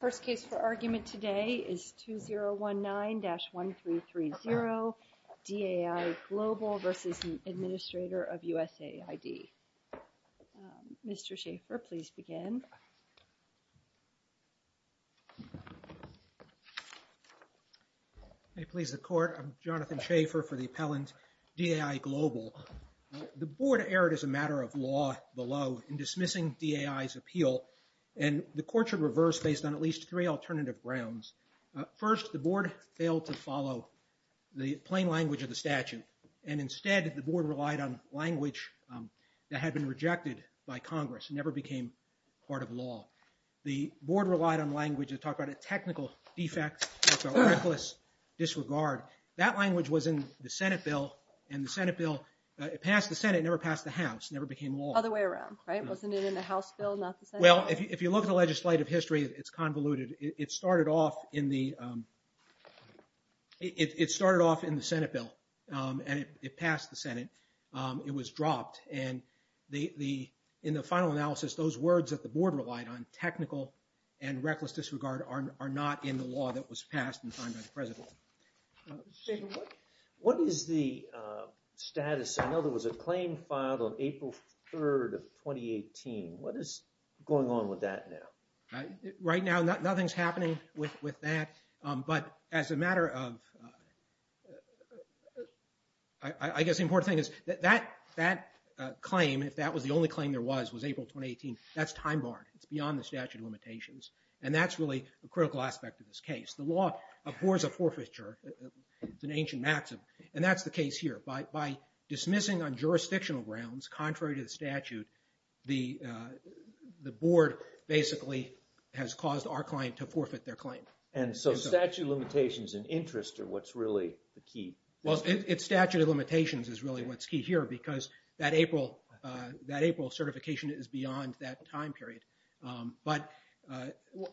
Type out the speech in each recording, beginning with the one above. First case for argument today is 2019-1330, DAI Global v. Administrator of USAID. Mr. Schaffer, please begin. May it please the Court, I'm Jonathan Schaffer for the appellant, DAI Global. The Board erred as a matter of law below in dismissing DAI's appeal, and the Court should reverse based on at least three alternative grounds. First, the Board failed to follow the plain language of the statute, and instead the Board relied on language that had been rejected by Congress, never became part of law. The Board relied on language that talked about a technical defect, about reckless disregard. That language was in the Senate bill, and the Senate bill, it passed the Senate, never passed the House, never became law. Other way around, right? Wasn't it in the House bill, not the Senate bill? Well, if you look at the legislative history, it's convoluted. It started off in the Senate bill, and it passed the Senate. It was dropped, and in the final analysis, those words that the Board relied on, technical and reckless disregard, are not in the law that was passed in time by the present law. Mr. Schaffer, what is the status? I know there was a claim filed on April 3rd of 2018. What is going on with that now? Right now, nothing's happening with that, but as a matter of, I guess the important thing is that that claim, if that was the only claim there was, was April 2018. That's time barred. It's beyond the statute of limitations, and that's really a critical aspect of this case. The law abhors a forfeiture. It's an ancient maxim, and that's the case here. By dismissing on jurisdictional grounds, contrary to the statute, the Board basically has caused our client to forfeit their claim. And so statute of limitations and interest are what's really the key. Well, it's statute of limitations is really what's key here, because that April certification is beyond that time period. But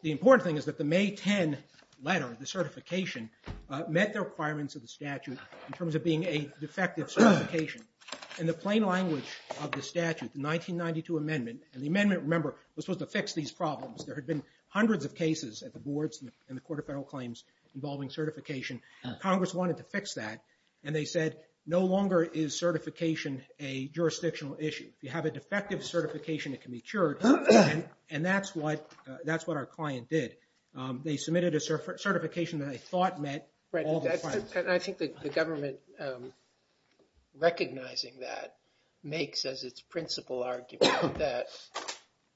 the important thing is that the May 10 letter, the certification, met the requirements of the statute in terms of being a defective certification. In the plain language of the statute, the 1992 amendment, and the amendment, remember, was supposed to fix these problems. There had been hundreds of cases at the Boards and the Court of Federal Claims involving certification. Congress wanted to fix that, and they said no longer is certification a jurisdictional issue. If you have a defective certification, it can be cured, and that's what our client did. They submitted a certification that they thought met all the requirements. I think the government recognizing that makes as its principal argument that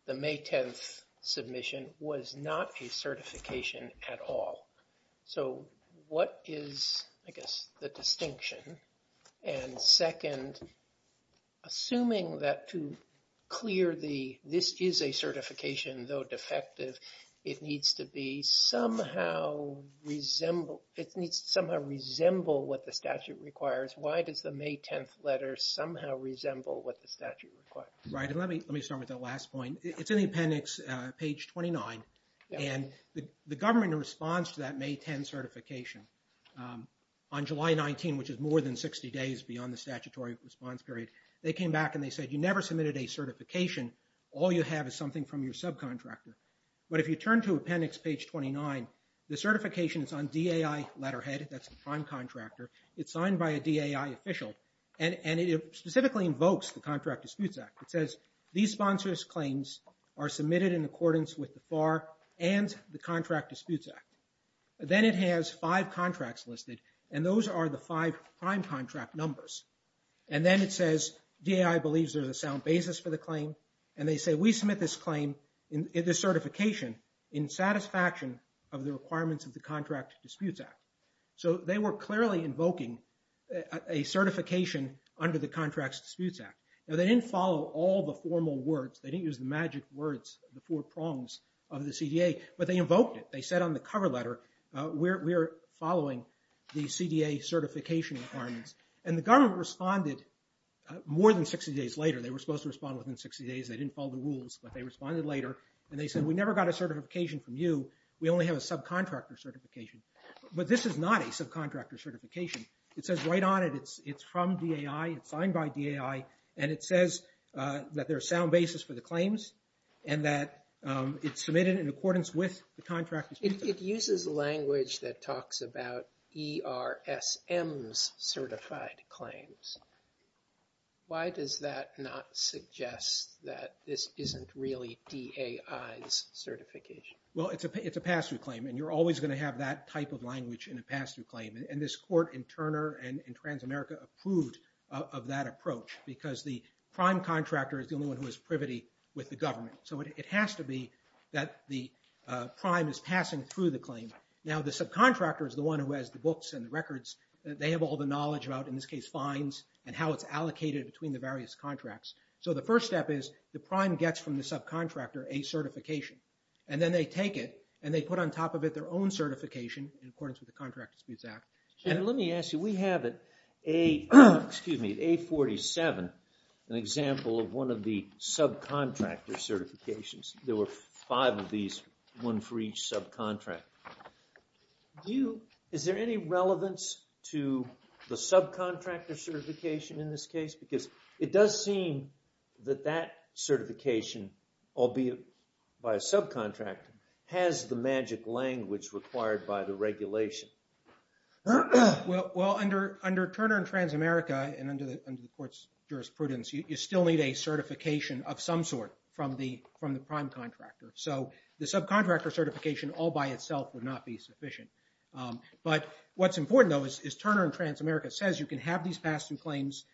the May 10th submission was not a certification at all. So what is, I guess, the distinction? And second, assuming that to clear the, this is a certification, though defective, it needs to be somehow resemble, it needs to somehow resemble what the statute requires. Why does the May 10th letter somehow resemble what the statute requires? Right, and let me start with that last point. It's in the appendix, page 29, and the government in response to that May 10 certification on July 19, which is more than 60 days beyond the statutory response period, they came back and they said you never submitted a certification. All you have is something from your subcontractor. But if you turn to appendix page 29, the certification is on DAI letterhead, that's the prime contractor. It's signed by a DAI official, and it specifically invokes the Contract Disputes Act. It says these sponsors' claims are submitted in accordance with the FAR and the Contract Disputes Act. Then it has five contracts listed, and those are the five prime contract numbers. And then it says DAI believes there's a sound basis for the claim, and they say we submit this claim, this certification, in satisfaction of the requirements of the Contract Disputes Act. So they were clearly invoking a certification under the Contracts Disputes Act. Now they didn't follow all the formal words. They didn't use the magic words, the four prongs of the CDA, but they invoked it. They said on the cover letter, we're following the CDA certification requirements. And the government responded more than 60 days later. They were supposed to respond within 60 days. They didn't follow the rules, but they responded later. And they said we never got a certification from you. We only have a subcontractor certification. But this is not a subcontractor certification. It says right on it, it's from DAI. It's signed by DAI, and it says that there's sound basis for the claims and that it's submitted in accordance with the Contract Disputes Act. It uses language that talks about ERSM's certified claims. Why does that not suggest that this isn't really DAI's certification? Well, it's a pass-through claim, and you're always going to have that type of language in a pass-through claim. And this court in Turner and in Transamerica approved of that approach because the prime contractor is the only one who has privity with the government. So it has to be that the prime is passing through the claim. Now, the subcontractor is the one who has the books and the records. They have all the knowledge about, in this case, fines and how it's allocated between the various contracts. So the first step is the prime gets from the subcontractor a certification. And then they take it, and they put on top of it their own certification in accordance with the Contract Disputes Act. And let me ask you, we have at A47 an example of one of the subcontractor certifications. There were five of these, one for each subcontractor. Is there any relevance to the subcontractor certification in this case? Because it does seem that that certification, albeit by a subcontractor, has the magic language required by the regulation. Well, under Turner and Transamerica and under the court's jurisprudence, you still need a certification of some sort from the prime contractor. So the subcontractor certification all by itself would not be sufficient. But what's important, though, is Turner and Transamerica says you can have these pass-through claims.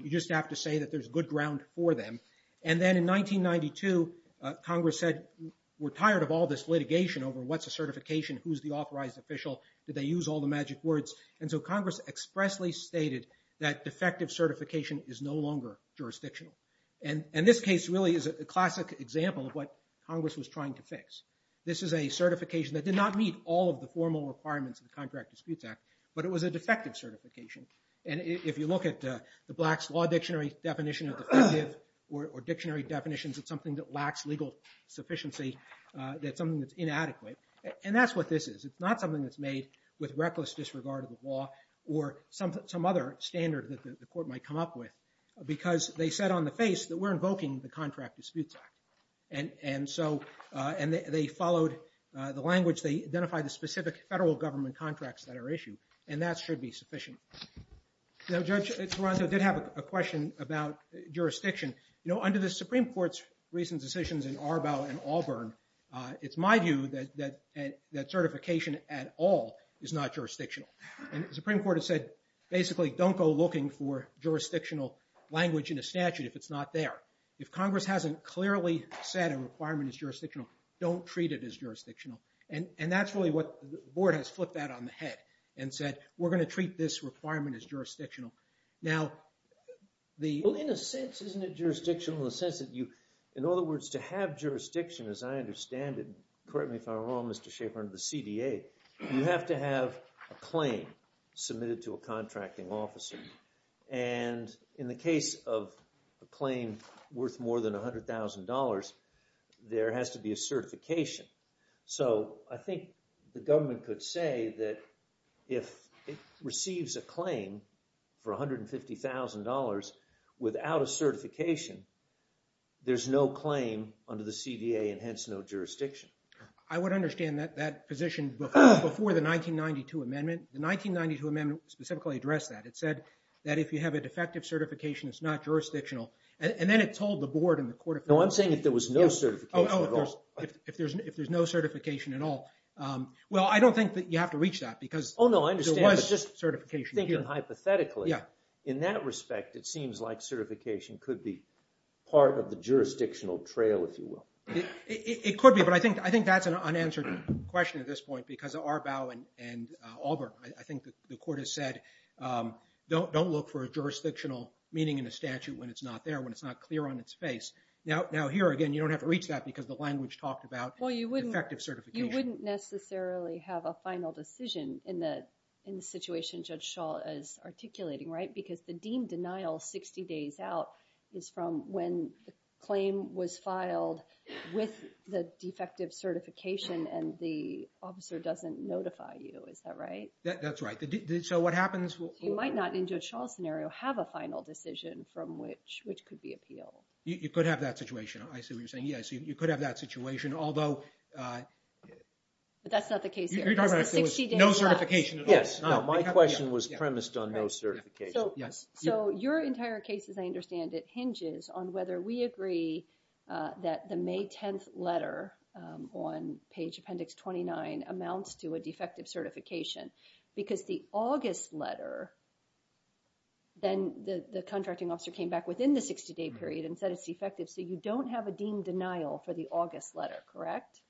You just have to say that there's good ground for them. And then in 1992, Congress said we're tired of all this litigation over what's a certification, who's the authorized official, did they use all the magic words. And so Congress expressly stated that defective certification is no longer jurisdictional. And this case really is a classic example of what Congress was trying to fix. This is a certification that did not meet all of the formal requirements of the Contract Disputes Act, but it was a defective certification. And if you look at the Black's Law Dictionary definition of defective or dictionary definitions of something that lacks legal sufficiency, that's something that's inadequate. And that's what this is. It's not something that's made with reckless disregard of the law or some other standard that the court might come up with. Because they said on the face that we're invoking the Contract Disputes Act. And so they followed the language. They identified the specific federal government contracts that are issued. And that should be sufficient. Now, Judge Taranto did have a question about jurisdiction. You know, under the Supreme Court's recent decisions in Arbaugh and Auburn, it's my view that certification at all is not jurisdictional. And the Supreme Court has said basically don't go looking for jurisdictional language in a statute if it's not there. If Congress hasn't clearly said a requirement is jurisdictional, don't treat it as jurisdictional. And that's really what the board has flipped that on the head and said we're going to treat this requirement as jurisdictional. Now, in a sense, isn't it jurisdictional in the sense that you, in other words, to have jurisdiction, as I understand it, correct me if I'm wrong, Mr. Schaffer, under the CDA, you have to have a claim submitted to a contracting officer. And in the case of a claim worth more than $100,000, there has to be a certification. So I think the government could say that if it receives a claim for $150,000 without a certification, there's no claim under the CDA and hence no jurisdiction. I would understand that position before the 1992 amendment. The 1992 amendment specifically addressed that. It said that if you have a defective certification, it's not jurisdictional. And then it told the board and the Court of Appeals. No, I'm saying if there was no certification at all. Oh, if there's no certification at all. Well, I don't think that you have to reach that because there was certification here. Oh, no, I understand, but just thinking hypothetically, in that respect, it seems like certification could be part of the jurisdictional trail, if you will. It could be, but I think that's an unanswered question at this point because of Arbaugh and Auburn. I think the Court has said don't look for a jurisdictional meaning in a statute when it's not there, when it's not clear on its face. Now here, again, you don't have to reach that because the language talked about defective certification. Well, you wouldn't necessarily have a final decision in the situation Judge Schall is articulating, right? Because the deemed denial 60 days out is from when the claim was filed with the defective certification and the officer doesn't notify you. Is that right? That's right. So what happens? You might not, in Judge Schall's scenario, have a final decision from which could be appealed. You could have that situation. I see what you're saying. Yes, you could have that situation, although... But that's not the case here. You're talking about if there was no certification at all. Yes. My question was premised on no certification. So your entire case, as I understand it, hinges on whether we agree that the May 10th letter on page Appendix 29 amounts to a defective certification because the August letter, then the contracting officer came back within the 60-day period and said it's defective. So you don't have a deemed denial for the August letter, correct?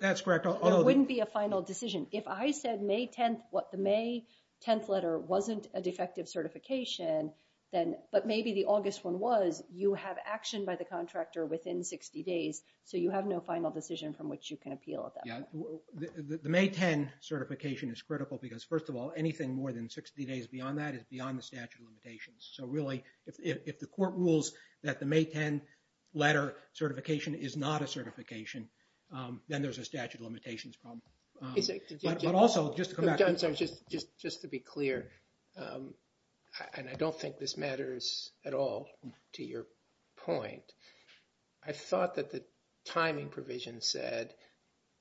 That's correct. There wouldn't be a final decision. If I said the May 10th letter wasn't a defective certification, but maybe the August one was, you have action by the contractor within 60 days, so you have no final decision from which you can appeal at that point. The May 10 certification is critical because, first of all, anything more than 60 days beyond that is beyond the statute of limitations. So really, if the court rules that the May 10 letter certification is not a certification, then there's a statute of limitations problem. But also, just to come back to... Just to be clear, and I don't think this matters at all to your point, I thought that the timing provision said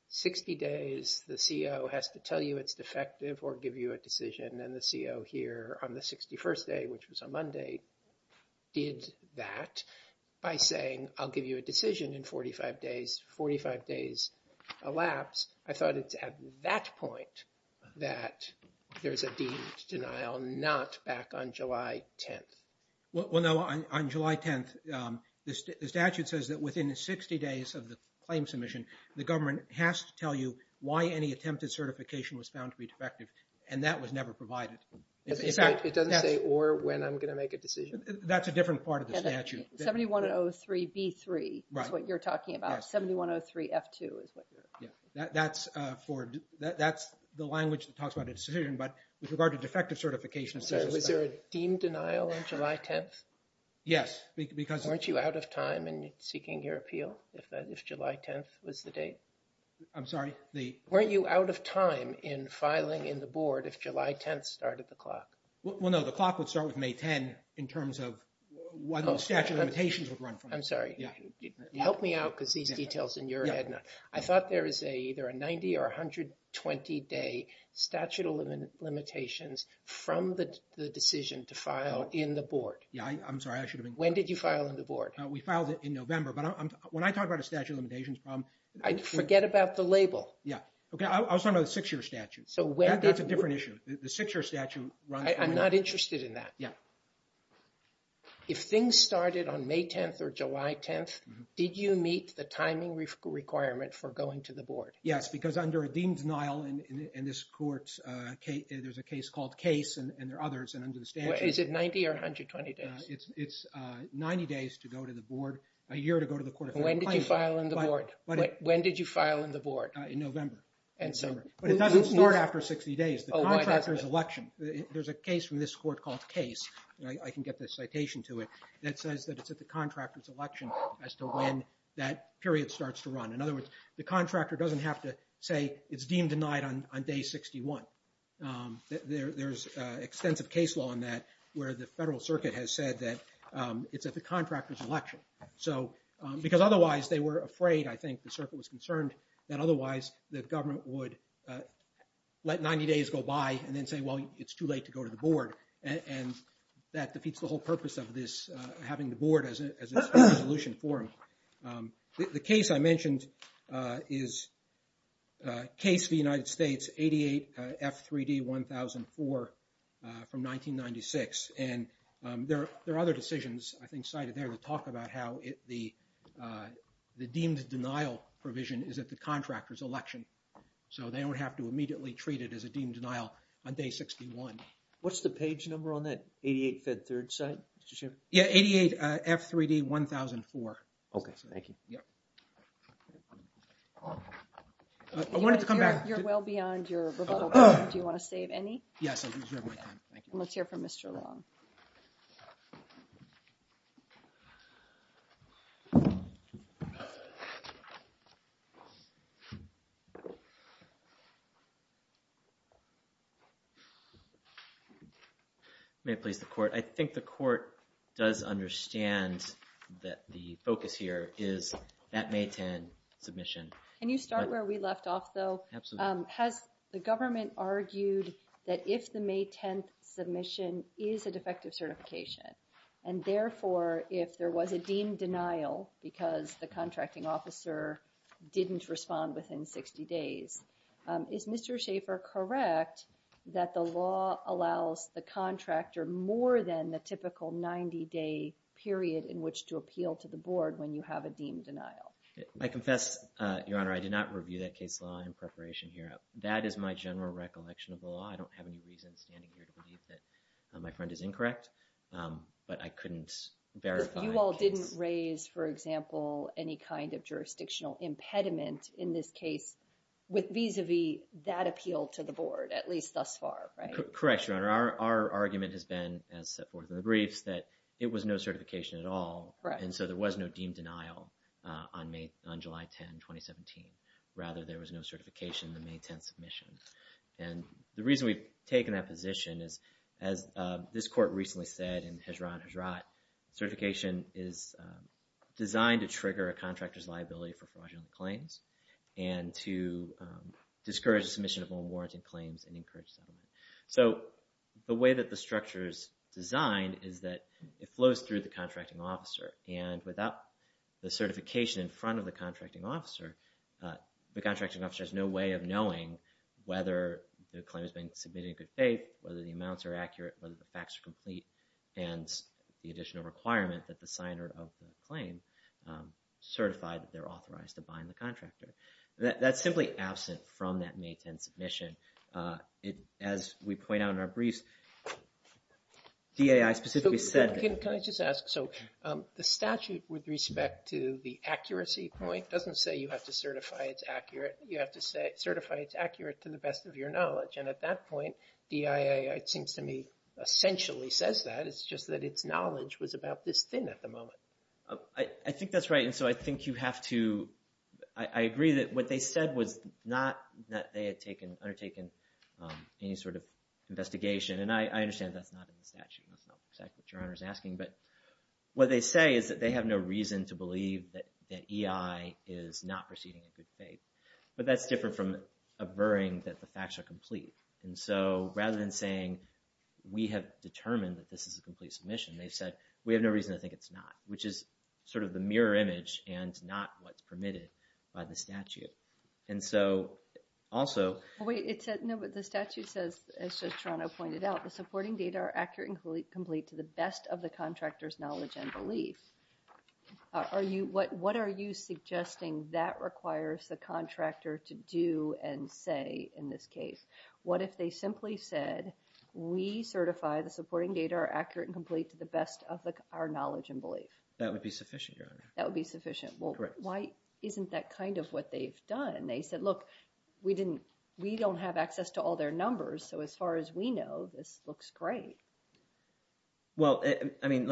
60 days the CO has to tell you it's defective or give you a decision, and the CO here on the 61st day, which was on Monday, did that by saying, I'll give you a decision in 45 days, 45 days elapsed. I thought it's at that point that there's a deemed denial, not back on July 10th. Well, no. On July 10th, the statute says that within 60 days of the claim submission, the government has to tell you why any attempted certification was found to be defective, and that was never provided. It doesn't say or when I'm going to make a decision. That's a different part of the statute. 7103B3 is what you're talking about. 7103F2 is what you're... That's the language that talks about a decision, but with regard to defective certification... So was there a deemed denial on July 10th? Yes, because... Weren't you out of time in seeking your appeal if July 10th was the date? I'm sorry, the... Well, no. The clock would start with May 10 in terms of what the statute of limitations would run from. I'm sorry. Help me out because these details in your head... I thought there is either a 90- or 120-day statute of limitations from the decision to file in the board. Yeah, I'm sorry. When did you file in the board? We filed it in November, but when I talk about a statute of limitations problem... Forget about the label. Yeah. I was talking about the six-year statute. That's a different issue. The six-year statute runs from... I'm not interested in that. Yeah. If things started on May 10th or July 10th, did you meet the timing requirement for going to the board? Yes, because under a deemed denial in this court, there's a case called Case and there are others, and under the statute... Is it 90- or 120-days? It's 90 days to go to the board, a year to go to the court of federal claimant. When did you file in the board? In November. But it doesn't start after 60 days. There's a case from this court called Case, and I can get the citation to it, that says that it's at the contractor's election as to when that period starts to run. In other words, the contractor doesn't have to say it's deemed denied on day 61. There's extensive case law on that where the federal circuit has said that it's at the contractor's election. Otherwise, the government would let 90 days go by and then say, well, it's too late to go to the board. And that defeats the whole purpose of this, having the board as its resolution forum. The case I mentioned is Case v. United States, 88 F3D 1004 from 1996. And there are other decisions, I think, to talk about how the deemed denial provision is at the contractor's election. So they don't have to immediately treat it as a deemed denial on day 61. What's the page number on that 88 Fed Third site, Mr. Chairman? Yeah, 88 F3D 1004. Okay, thank you. You're well beyond your rebuttal time. Do you want to save any? Yes, I deserve my time. Let's hear from Mr. Long. May it please the court. I think the court does understand that the focus here is that May 10 submission. Can you start where we left off, though? Has the government argued that if the May 10th submission is a defective certification, and therefore if there was a deemed denial because the contracting officer didn't respond within 60 days, is Mr. Schaffer correct that the law allows the contractor more than the typical 90-day period in which to appeal to the board when you have a deemed denial? I confess, Your Honor, I did not review that case law in preparation here. That is my general recollection of the law. I don't have any reason standing here to believe that my friend is incorrect. But I couldn't verify. You all didn't raise, for example, any kind of jurisdictional impediment in this case with vis-a-vis that appeal to the board, at least thus far, right? Correct, Your Honor. Our argument has been, as set forth in the briefs, that it was no certification at all. And so there was no deemed denial on July 10, 2017. Rather, there was no certification in the May 10th submission. And the reason we've taken that position is, as this court recently said in Hijrat Hijrat, certification is designed to trigger a contractor's liability for fraudulent claims and to discourage the submission of unwarranted claims and encourage settlement. So the way that the structure is designed is that it flows through the contracting officer. And without the certification in front of the contracting officer, the contracting officer has no way of knowing whether the claim has been submitted in good faith, whether the amounts are accurate, whether the facts are complete, and the additional requirement that the signer of the claim certify that they're authorized to bind the contractor. That's simply absent from that May 10th submission. As we point out in our briefs, DIAI specifically said- Can I just ask? So the statute, with respect to the accuracy point, doesn't say you have to certify it's accurate. You have to certify it's accurate to the best of your knowledge. And at that point, DIAI, it seems to me, essentially says that. It's just that its knowledge was about this thin at the moment. I think that's right. And so I think you have to- I agree that what they said was not that they had undertaken any sort of investigation. And I understand that's not in the statute. That's not exactly what Your Honor is asking. But what they say is that they have no reason to believe that EI is not proceeding in good faith. But that's different from averring that the facts are complete. And so rather than saying we have determined that this is a complete submission, they said we have no reason to think it's not, which is sort of the mirror image and not what's permitted by the statute. And so also- Wait, it said- No, but the statute says, as just Toronto pointed out, the supporting data are accurate and complete to the best of the contractor's knowledge and belief. What are you suggesting that requires the contractor to do and say in this case? What if they simply said we certify the supporting data are accurate and complete to the best of our knowledge and belief? That would be sufficient, Your Honor. That would be sufficient. Correct. Well, why isn't that kind of what they've done? They said, look, we don't have access to all their numbers. So as far as we know, this looks great. Well, I mean,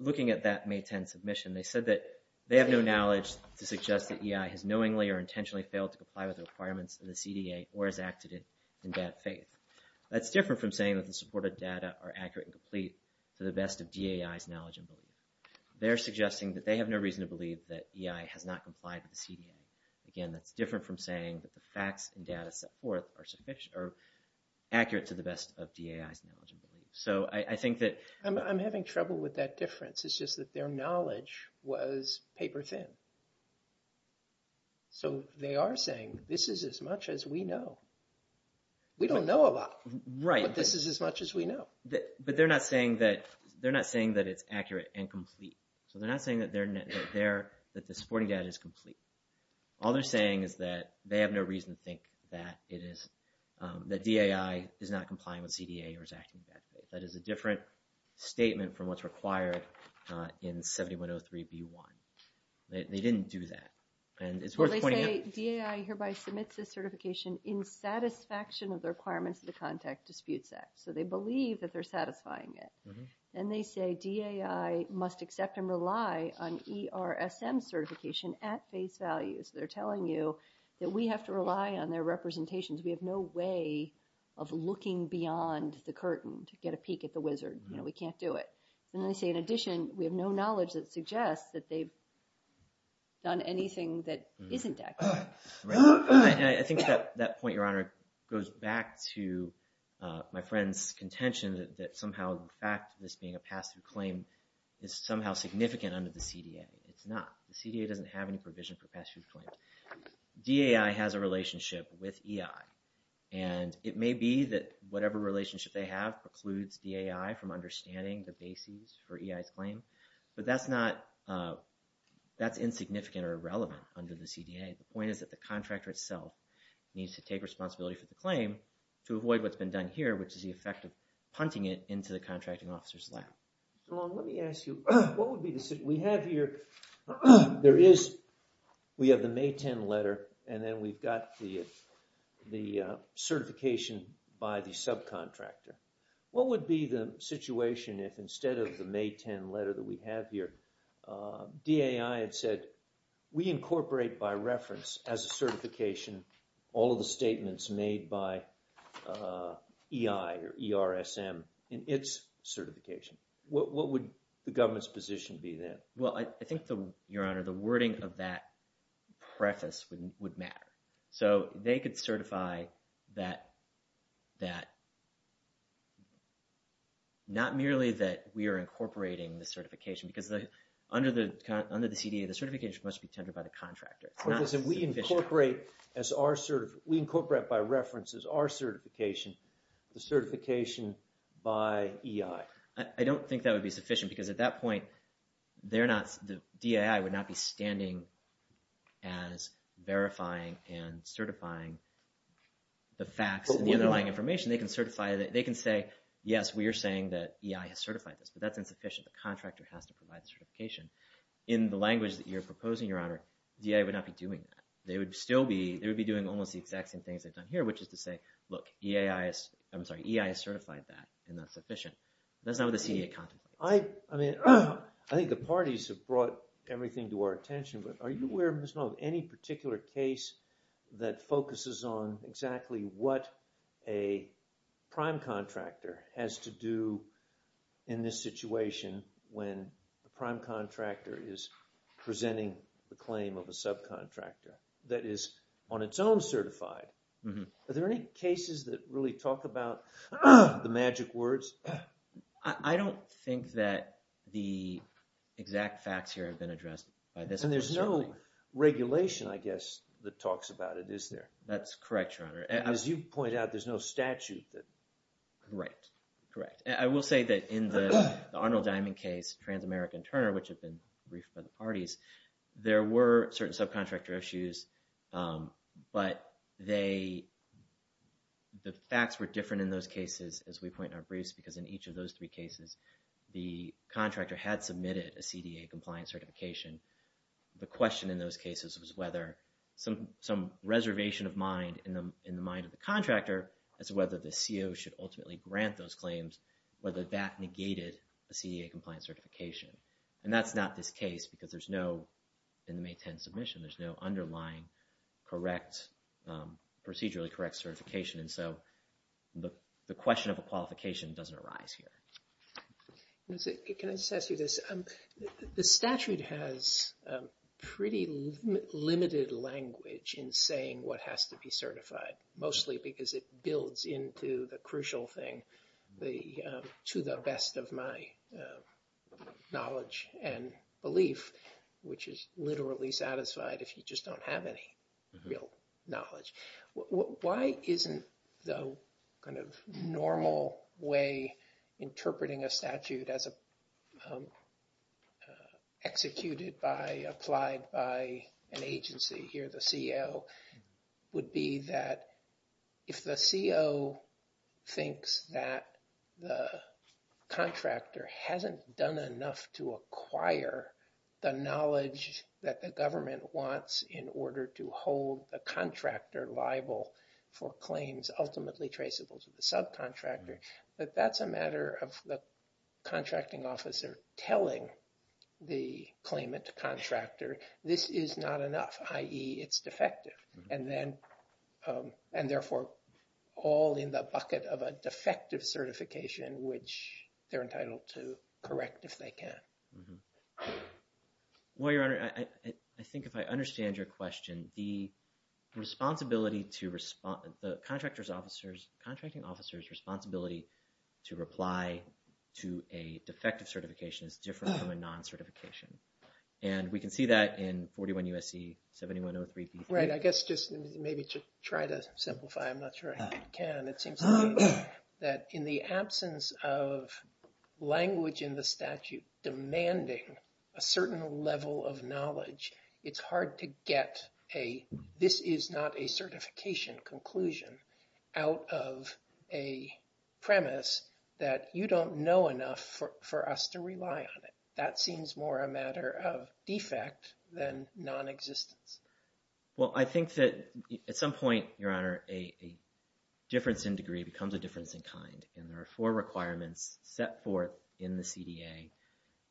looking at that May 10 submission, they said that they have no knowledge to suggest that EI has knowingly or intentionally failed to comply with the requirements of the CDA or has acted in that faith. That's different from saying that the supported data are accurate and complete to the best of DAI's knowledge and belief. They're suggesting that they have no reason to believe that EI has not complied with the CDA. Again, that's different from saying that the facts and data set forth are accurate to the best of DAI's knowledge and belief. So I think that- I'm having trouble with that difference. It's just that their knowledge was paper thin. So they are saying this is as much as we know. We don't know a lot. Right. But this is as much as we know. But they're not saying that it's accurate and complete. So they're not saying that the supporting data is complete. All they're saying is that they have no reason to think that it is, that DAI is not complying with CDA or is acting that way. That is a different statement from what's required in 7103B1. They didn't do that. And it's worth pointing out- But they say DAI hereby submits this certification in satisfaction of the requirements of the Contact Disputes Act. So they believe that they're satisfying it. And they say DAI must accept and rely on ERSM certification at face value. So they're telling you that we have to rely on their representations. We have no way of looking beyond the curtain to get a peek at the wizard. We can't do it. And then they say, in addition, we have no knowledge that suggests that they've done anything that isn't accurate. Right. And I think that point, Your Honor, goes back to my friend's contention that somehow the fact of this being a pass-through claim is somehow significant under the CDA. It's not. The CDA doesn't have any provision for pass-through claims. DAI has a relationship with EI. And it may be that whatever relationship they have precludes DAI from understanding the basis for EI's claim. But that's insignificant or irrelevant under the CDA. The point is that the contractor itself needs to take responsibility for the claim to avoid what's been done here, which is the effect of punting it into the contracting officer's lap. Mr. Long, let me ask you. We have here, we have the May 10 letter, and then we've got the certification by the subcontractor. What would be the situation if instead of the May 10 letter that we have here, DAI had said, we incorporate by reference as a certification all of the statements made by EI or ERSM in its certification? What would the government's position be then? Well, I think, Your Honor, the wording of that preface would matter. So they could certify that not merely that we are incorporating the certification, because under the CDA, the certification must be tendered by the contractor. But listen, we incorporate as our – we incorporate by reference as our certification the certification by EI. I don't think that would be sufficient, because at that point, they're not – the DAI would not be standing as verifying and certifying the facts and the underlying information. They can certify – they can say, yes, we are saying that EI has certified this, but that's insufficient. The contractor has to provide the certification. In the language that you're proposing, Your Honor, DAI would not be doing that. They would still be – they would be doing almost the exact same things they've done here, which is to say, look, EI has – I'm sorry, EI has certified that, and that's sufficient. That's not what the CDA contemplates. I mean, I think the parties have brought everything to our attention, but are you aware, Ms. Knoll, of any particular case that focuses on exactly what a prime contractor has to do in this situation when the prime contractor is presenting the claim of a subcontractor that is on its own certified? Are there any cases that really talk about the magic words? I don't think that the exact facts here have been addressed by this attorney. And there's no regulation, I guess, that talks about it, is there? That's correct, Your Honor. And as you point out, there's no statute that – Right, correct. I will say that in the Arnold Diamond case, trans-American Turner, which had been briefed by the parties, there were certain subcontractor issues, but they – the facts were different in those cases, as we point in our briefs, because in each of those three cases, the contractor had submitted a CDA-compliant certification. The question in those cases was whether some reservation of mind in the mind of the contractor as to whether the CO should ultimately grant those claims, whether that negated a CDA-compliant certification. And that's not this case, because there's no – in the May 10 submission, there's no underlying correct – procedurally correct certification. And so the question of a qualification doesn't arise here. Can I just ask you this? The statute has pretty limited language in saying what has to be certified, mostly because it builds into the crucial thing, to the best of my knowledge and belief, which is literally satisfied if you just don't have any real knowledge. Why isn't the kind of normal way interpreting a statute as executed by – applied by an agency, here the CO, would be that if the CO thinks that the contractor hasn't done enough to acquire the knowledge that the government wants in order to hold the contractor liable for claims ultimately traceable to the subcontractor, that that's a matter of the contracting officer telling the claimant contractor, this is not enough, i.e., it's defective. And then – and therefore all in the bucket of a defective certification, which they're entitled to correct if they can. Well, Your Honor, I think if I understand your question, the responsibility to – the contractor's officers – contracting officer's responsibility to reply to a defective certification is different from a non-certification. And we can see that in 41 U.S.C. 7103B3. Right. I guess just maybe to try to simplify. I'm not sure I can. It seems to me that in the absence of language in the statute demanding a certain level of knowledge, it's hard to get a, this is not a certification conclusion, out of a premise that you don't know enough for us to rely on it. That seems more a matter of defect than non-existence. Well, I think that at some point, Your Honor, a difference in degree becomes a difference in kind. And there are four requirements set forth in the CDA.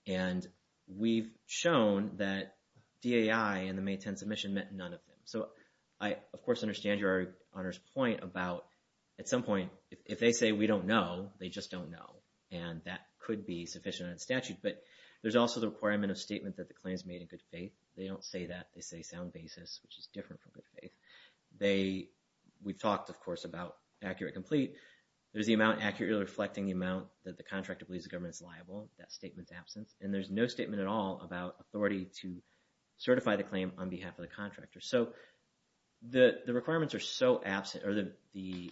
And we've shown that DAI in the May 10 submission meant none of them. So I, of course, understand Your Honor's point about at some point if they say we don't know, they just don't know. And that could be sufficient in statute. But there's also the requirement of statement that the claim is made in good faith. They don't say that. They say sound basis, which is different from good faith. They, we've talked, of course, about accurate complete. There's the amount accurately reflecting the amount that the contractor believes the government is liable. That statement's absence. And there's no statement at all about authority to certify the claim on behalf of the contractor. So the requirements are so absent or the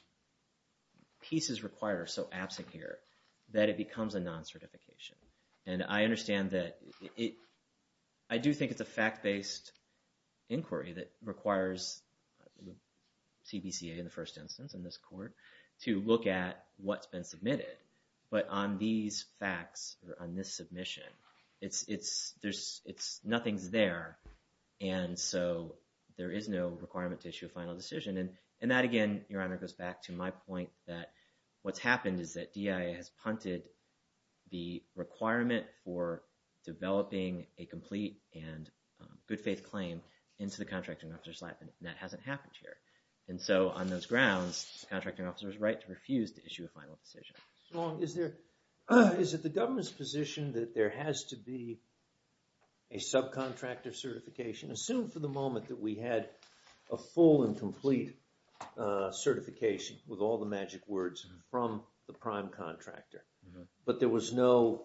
pieces required are so absent here that it becomes a non-certification. And I understand that it, I do think it's a fact-based inquiry that requires CBCA in the first instance in this court to look at what's been submitted. But on these facts, on this submission, it's, it's, there's, it's, nothing's there. And so there is no requirement to issue a final decision. And that, again, Your Honor, goes back to my point that what's happened is that DIA has punted the requirement for developing a complete and good faith claim into the contracting officer's lap. And that hasn't happened here. And so on those grounds, the contracting officer's right to refuse to issue a final decision. So is there, is it the government's position that there has to be a subcontractor certification? Assume for the moment that we had a full and complete certification with all the magic words from the prime contractor. But there was no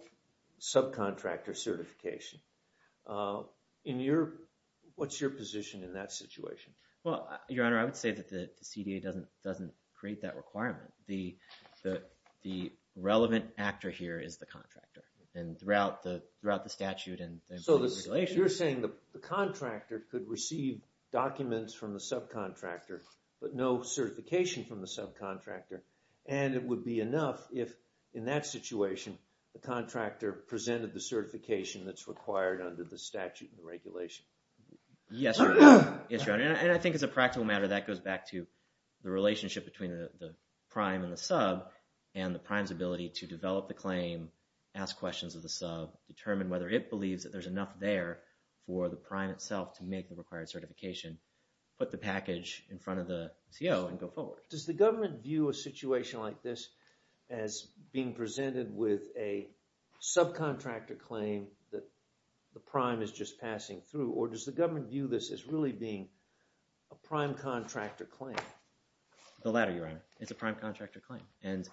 subcontractor certification. In your, what's your position in that situation? Well, Your Honor, I would say that the CDA doesn't, doesn't create that requirement. The, the, the relevant actor here is the contractor. And throughout the, throughout the statute and the regulations. So you're saying the contractor could receive documents from the subcontractor, but no certification from the subcontractor. And it would be enough if, in that situation, the contractor presented the certification that's required under the statute and regulation. Yes, Your Honor. And I think as a practical matter, that goes back to the relationship between the prime and the sub and the prime's ability to develop the claim, ask questions of the sub, determine whether it believes that there's enough there for the prime itself to make the required certification, put the package in front of the CO and go forward. Does the government view a situation like this as being presented with a subcontractor claim that the prime is just passing through? Or does the government view this as really being a prime contractor claim? The latter, Your Honor. It's a prime contractor claim. And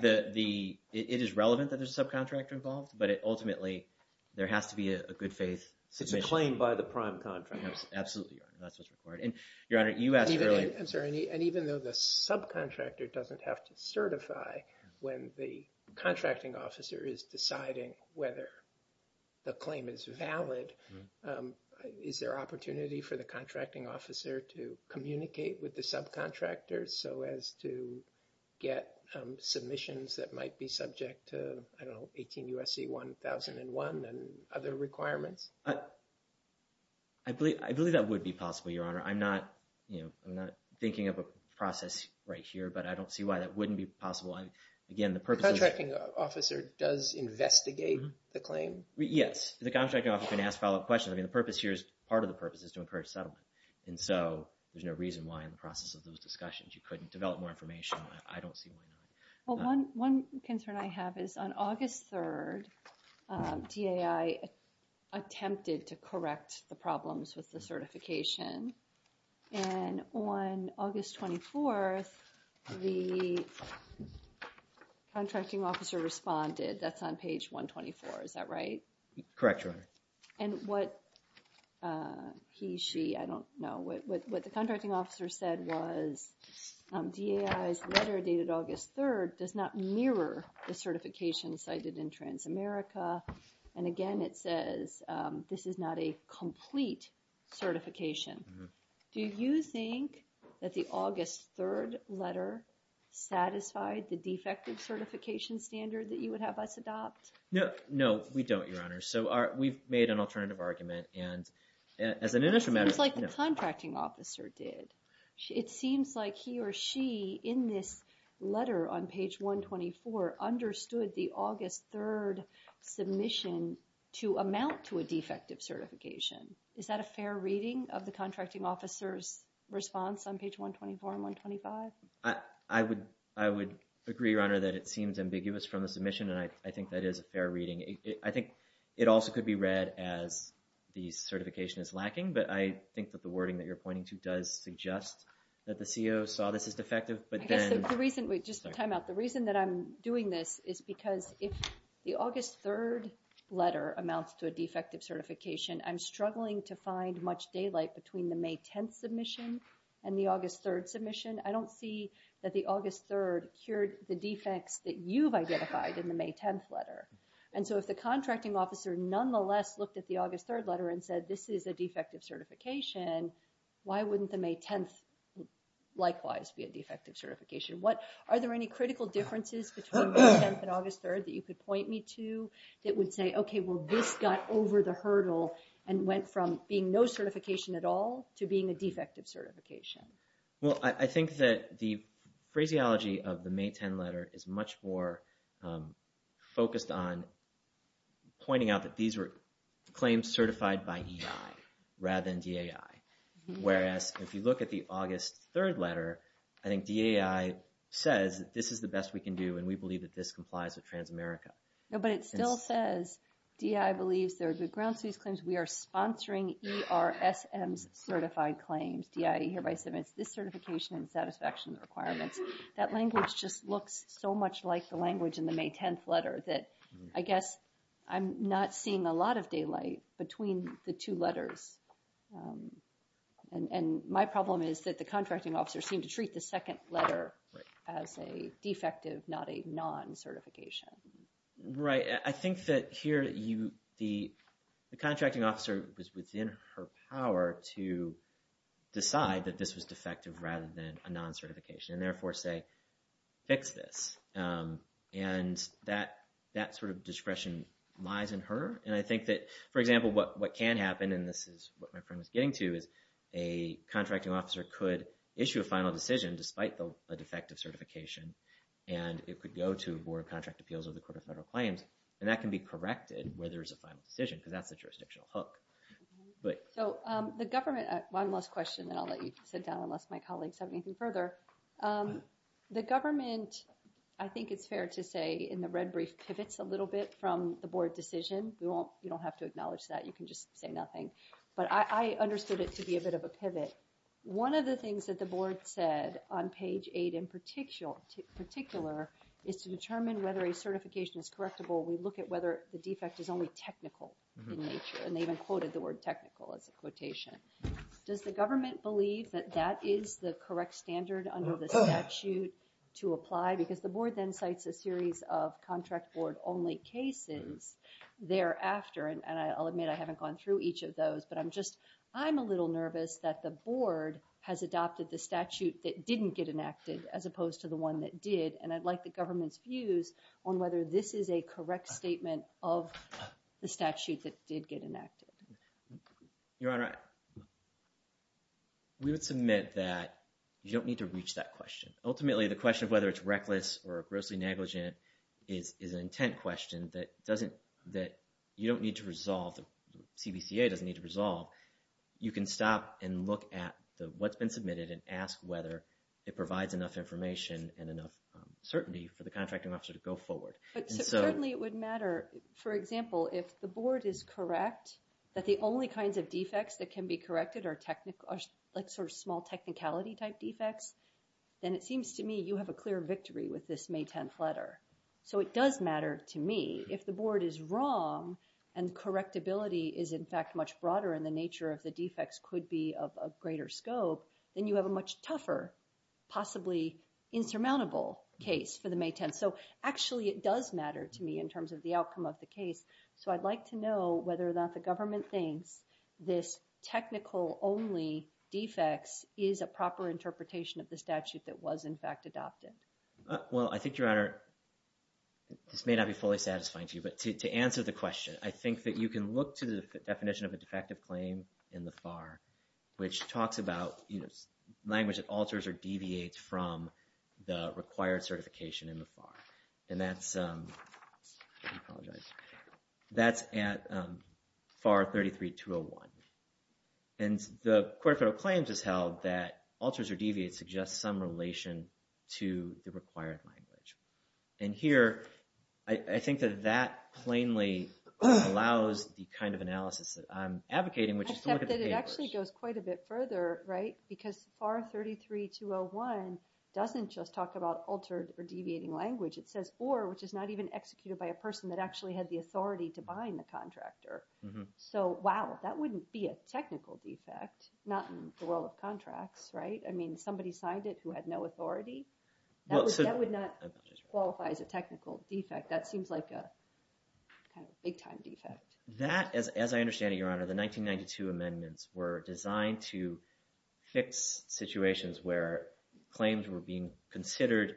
the, the, it is relevant that there's a subcontractor involved, but it ultimately, there has to be a good faith submission. It's a claim by the prime contractor. Absolutely, Your Honor. That's what's required. And Your Honor, you asked earlier. I'm sorry. And even though the subcontractor doesn't have to certify when the contracting officer is deciding whether the claim is valid, is there opportunity for the contracting officer to communicate with the subcontractor so as to get submissions that might be subject to, I don't know, 18 U.S.C. 1001 and other requirements? I believe, I believe that would be possible, Your Honor. I'm not, you know, I'm not thinking of a process right here, but I don't see why that wouldn't be possible. Again, the purpose of... The contracting officer does investigate the claim? Yes. The contracting officer can ask follow-up questions. I mean, the purpose here is, part of the purpose is to encourage settlement. And so there's no reason why in the process of those discussions you couldn't develop more information. I don't see why not. Well, one concern I have is on August 3rd, DAI attempted to correct the problems with the certification. And on August 24th, the contracting officer responded. That's on page 124, is that right? Correct, Your Honor. And what he, she, I don't know, what the contracting officer said was, DAI's letter dated August 3rd does not mirror the certification cited in Transamerica. And again, it says this is not a complete certification. Do you think that the August 3rd letter satisfied the defective certification standard that you would have us adopt? No, we don't, Your Honor. So we've made an alternative argument. And as an initial matter... It seems like the contracting officer did. It seems like he or she in this letter on page 124 understood the August 3rd submission to amount to a defective certification. Is that a fair reading of the contracting officer's response on page 124 and 125? I would agree, Your Honor, that it seems ambiguous from the submission, and I think that is a fair reading. I think it also could be read as the certification is lacking, but I think that the wording that you're pointing to does suggest that the CO saw this as defective, but then... I guess the reason, just to time out, the reason that I'm doing this is because if the August 3rd letter amounts to a defective certification, I'm struggling to find much daylight between the May 10th submission and the August 3rd submission. I don't see that the August 3rd cured the defects that you've identified in the May 10th letter. And so if the contracting officer nonetheless looked at the August 3rd letter and said, this is a defective certification, why wouldn't the May 10th likewise be a defective certification? Are there any critical differences between May 10th and August 3rd that you could point me to that would say, okay, well, this got over the hurdle and went from being no certification at all to being a defective certification? Well, I think that the phraseology of the May 10th letter is much more focused on pointing out that these were claims certified by EI rather than DAI. Whereas if you look at the August 3rd letter, I think DAI says, this is the best we can do, and we believe that this complies with Transamerica. No, but it still says, DAI believes there are good grounds for these claims. We are sponsoring ERSM's certified claims. DAI hereby submits this certification and satisfaction requirements. That language just looks so much like the language in the May 10th letter that I guess I'm not seeing a lot of daylight between the two letters. And my problem is that the contracting officer seemed to treat the second letter as a defective, not a non-certification. Right. I think that here the contracting officer was within her power to decide that this was defective rather than a non-certification and therefore say, fix this. And that sort of discretion lies in her. And I think that, for example, what can happen, and this is what my friend was getting to, is a contracting officer could issue a final decision despite a defective certification. And it could go to a Board of Contract Appeals or the Court of Federal Claims, and that can be corrected where there is a final decision because that's the jurisdictional hook. So, the government, one last question and I'll let you sit down unless my colleagues have anything further. The government, I think it's fair to say, in the red brief, pivots a little bit from the Board decision. You don't have to acknowledge that. You can just say nothing. But I understood it to be a bit of a pivot. One of the things that the Board said on page 8 in particular is to determine whether a certification is correctable. We look at whether the defect is only technical in nature. And they even quoted the word technical as a quotation. Does the government believe that that is the correct standard under the statute to apply? Because the Board then cites a series of contract Board-only cases thereafter. And I'll admit I haven't gone through each of those, but I'm just, I'm a little nervous that the Board has adopted the statute that didn't get enacted as opposed to the one that did. And I'd like the government's views on whether this is a correct statement of the statute that did get enacted. Your Honor, we would submit that you don't need to reach that question. Ultimately, the question of whether it's reckless or grossly negligent is an intent question that doesn't, that you don't need to resolve. The CBCA doesn't need to resolve. You can stop and look at what's been submitted and ask whether it provides enough information and enough certainty for the contracting officer to go forward. But certainly it would matter, for example, if the Board is correct that the only kinds of defects that can be corrected are like sort of small technicality type defects, then it seems to me you have a clear victory with this May 10th letter. So it does matter to me if the Board is wrong and correctability is in fact much broader and the nature of the defects could be of a greater scope, then you have a much tougher, possibly insurmountable case for the May 10th. So actually it does matter to me in terms of the outcome of the case. So I'd like to know whether or not the government thinks this technical only defects is a proper interpretation of the statute that was in fact adopted. Well, I think, Your Honor, this may not be fully satisfying to you, but to answer the question, I think that you can look to the definition of a defective claim in the FAR, which talks about language that alters or deviates from the required certification in the FAR. And that's, I apologize, that's at FAR 33-201. And the Court of Federal Claims has held that alters or deviates suggest some relation to the required language. And here, I think that that plainly allows the kind of analysis that I'm advocating, which is to look at the papers. Except that it actually goes quite a bit further, right? Because FAR 33-201 doesn't just talk about altered or deviating language. It says or, which is not even executed by a person that actually had the authority to bind the contractor. So, wow, that wouldn't be a technical defect, not in the world of contracts, right? I mean, somebody signed it who had no authority? That would not qualify as a technical defect. That seems like a big-time defect. That, as I understand it, Your Honor, the 1992 amendments were designed to fix situations where claims were being considered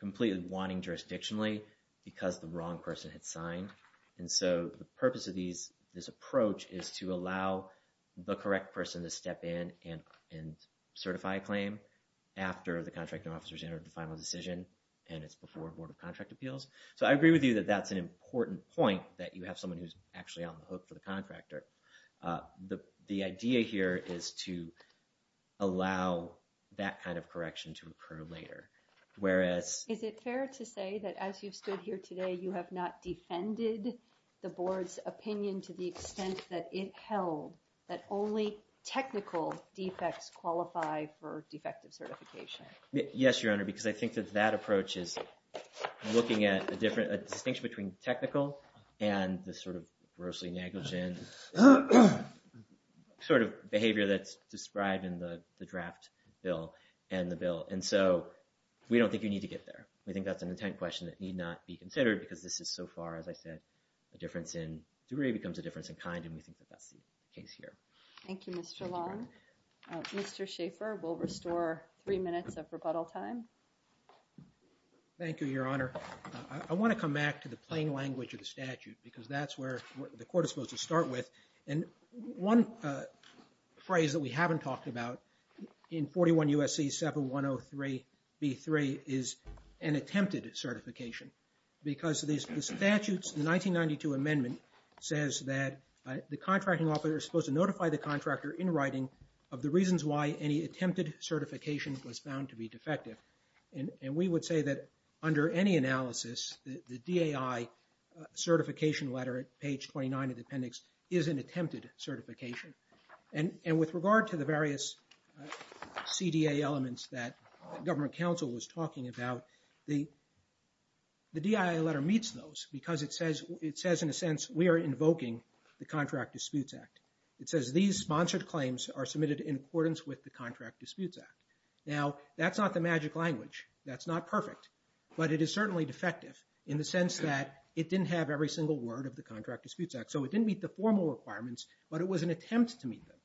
completely wanting jurisdictionally because the wrong person had signed. And so the purpose of this approach is to allow the correct person to step in and certify a claim after the contracting officer's entered the final decision, and it's before a Board of Contract Appeals. So I agree with you that that's an important point, that you have someone who's actually on the hook for the contractor. The idea here is to allow that kind of correction to occur later, whereas... Is it fair to say that as you've stood here today, you have not defended the Board's opinion to the extent that it held that only technical defects qualify for defective certification? Yes, Your Honor, because I think that that approach is looking at a distinction between technical and the sort of grossly negligent sort of behavior that's described in the draft bill and the bill. And so we don't think you need to get there. We think that's an intent question that need not be considered because this is so far, as I said, a difference in degree becomes a difference in kind, and we think that that's the case here. Thank you, Mr. Long. Mr. Schaffer will restore three minutes of rebuttal time. Thank you, Your Honor. I want to come back to the plain language of the statute because that's where the court is supposed to start with. And one phrase that we haven't talked about in 41 U.S.C. 7103-B3 is an attempted certification because the statute's 1992 amendment says that the contracting officer is supposed to notify the contractor in writing of the reasons why any attempted certification was found to be defective. And we would say that under any analysis, the DAI certification letter at page 29 of the appendix is an attempted certification. And with regard to the various CDA elements that government counsel was talking about, the DAI letter meets those because it says in a sense we are invoking the Contract Disputes Act. It says these sponsored claims are submitted in accordance with the Contract Disputes Act. Now, that's not the magic language. That's not perfect. But it is certainly defective in the sense that it didn't have every single word of the Contract Disputes Act. So it didn't meet the formal requirements, but it was an attempt to meet them.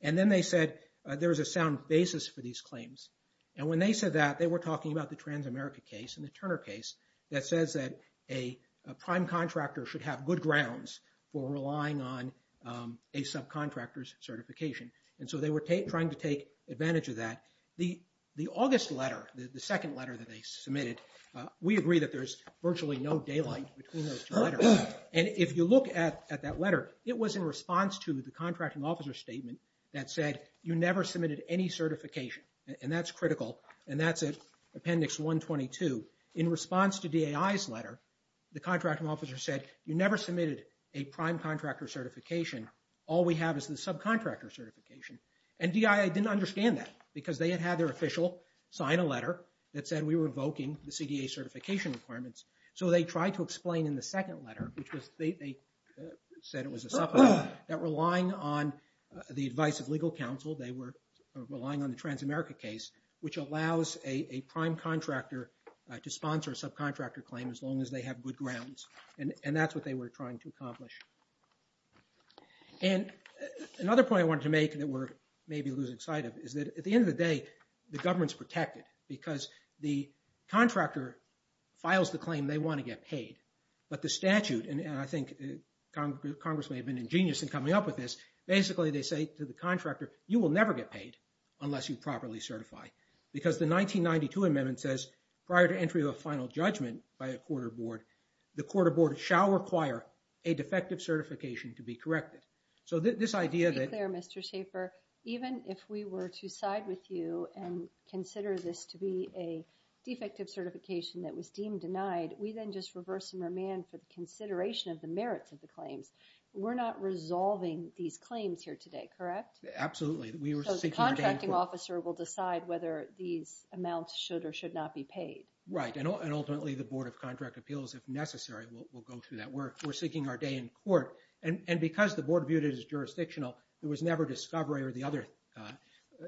And then they said there is a sound basis for these claims. And when they said that, they were talking about the Transamerica case and the Turner case that says that a prime contractor should have good grounds for relying on a subcontractor's certification. And so they were trying to take advantage of that. The August letter, the second letter that they submitted, we agree that there's virtually no daylight between those two letters. And if you look at that letter, it was in response to the contracting officer's statement that said you never submitted any certification. And that's critical. And that's at appendix 122. In response to DAI's letter, the contracting officer said you never submitted a prime contractor certification. All we have is the subcontractor certification. And DAI didn't understand that because they had had their official sign a letter that said we were revoking the CDA certification requirements. So they tried to explain in the second letter, which they said it was a supplement, that relying on the advice of legal counsel, they were relying on the Transamerica case, which allows a prime contractor to sponsor a subcontractor claim as long as they have good grounds. And that's what they were trying to accomplish. And another point I wanted to make that we're maybe losing sight of is that at the end of the day, the government's protected because the contractor files the claim they want to get paid. But the statute, and I think Congress may have been ingenious in coming up with this, basically they say to the contractor, you will never get paid unless you properly certify. Because the 1992 amendment says prior to entry of a final judgment by a court or board, the court or board shall require a defective certification to be corrected. So this idea that... To be clear, Mr. Schaffer, even if we were to side with you and consider this to be a defective certification that was deemed denied, we then just reverse and remand for the consideration of the merits of the claims. We're not resolving these claims here today, correct? Absolutely. So the contracting officer will decide whether these amounts should or should not be paid. Right. And ultimately, the Board of Contract Appeals, if necessary, will go through that. We're seeking our day in court. And because the board viewed it as jurisdictional, there was never discovery or the other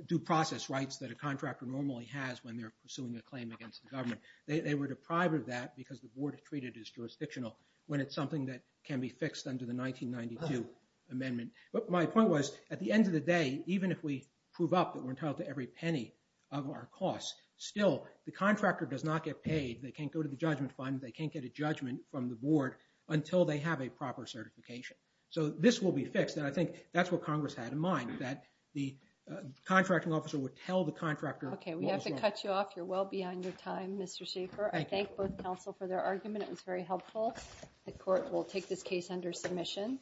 due process rights that a contractor normally has when they're pursuing a claim against the government. They were deprived of that because the board treated it as jurisdictional when it's something that can be fixed under the 1992 amendment. But my point was, at the end of the day, even if we prove up that we're entitled to every penny of our costs, still, the contractor does not get paid. They can't go to the judgment fund. They can't get a judgment from the board until they have a proper certification. So this will be fixed. And I think that's what Congress had in mind, that the contracting officer would tell the contractor... Okay, we have to cut you off. You're well beyond your time, Mr. Schaffer. I thank both counsel for their argument. It was very helpful. The court will take this case under submission.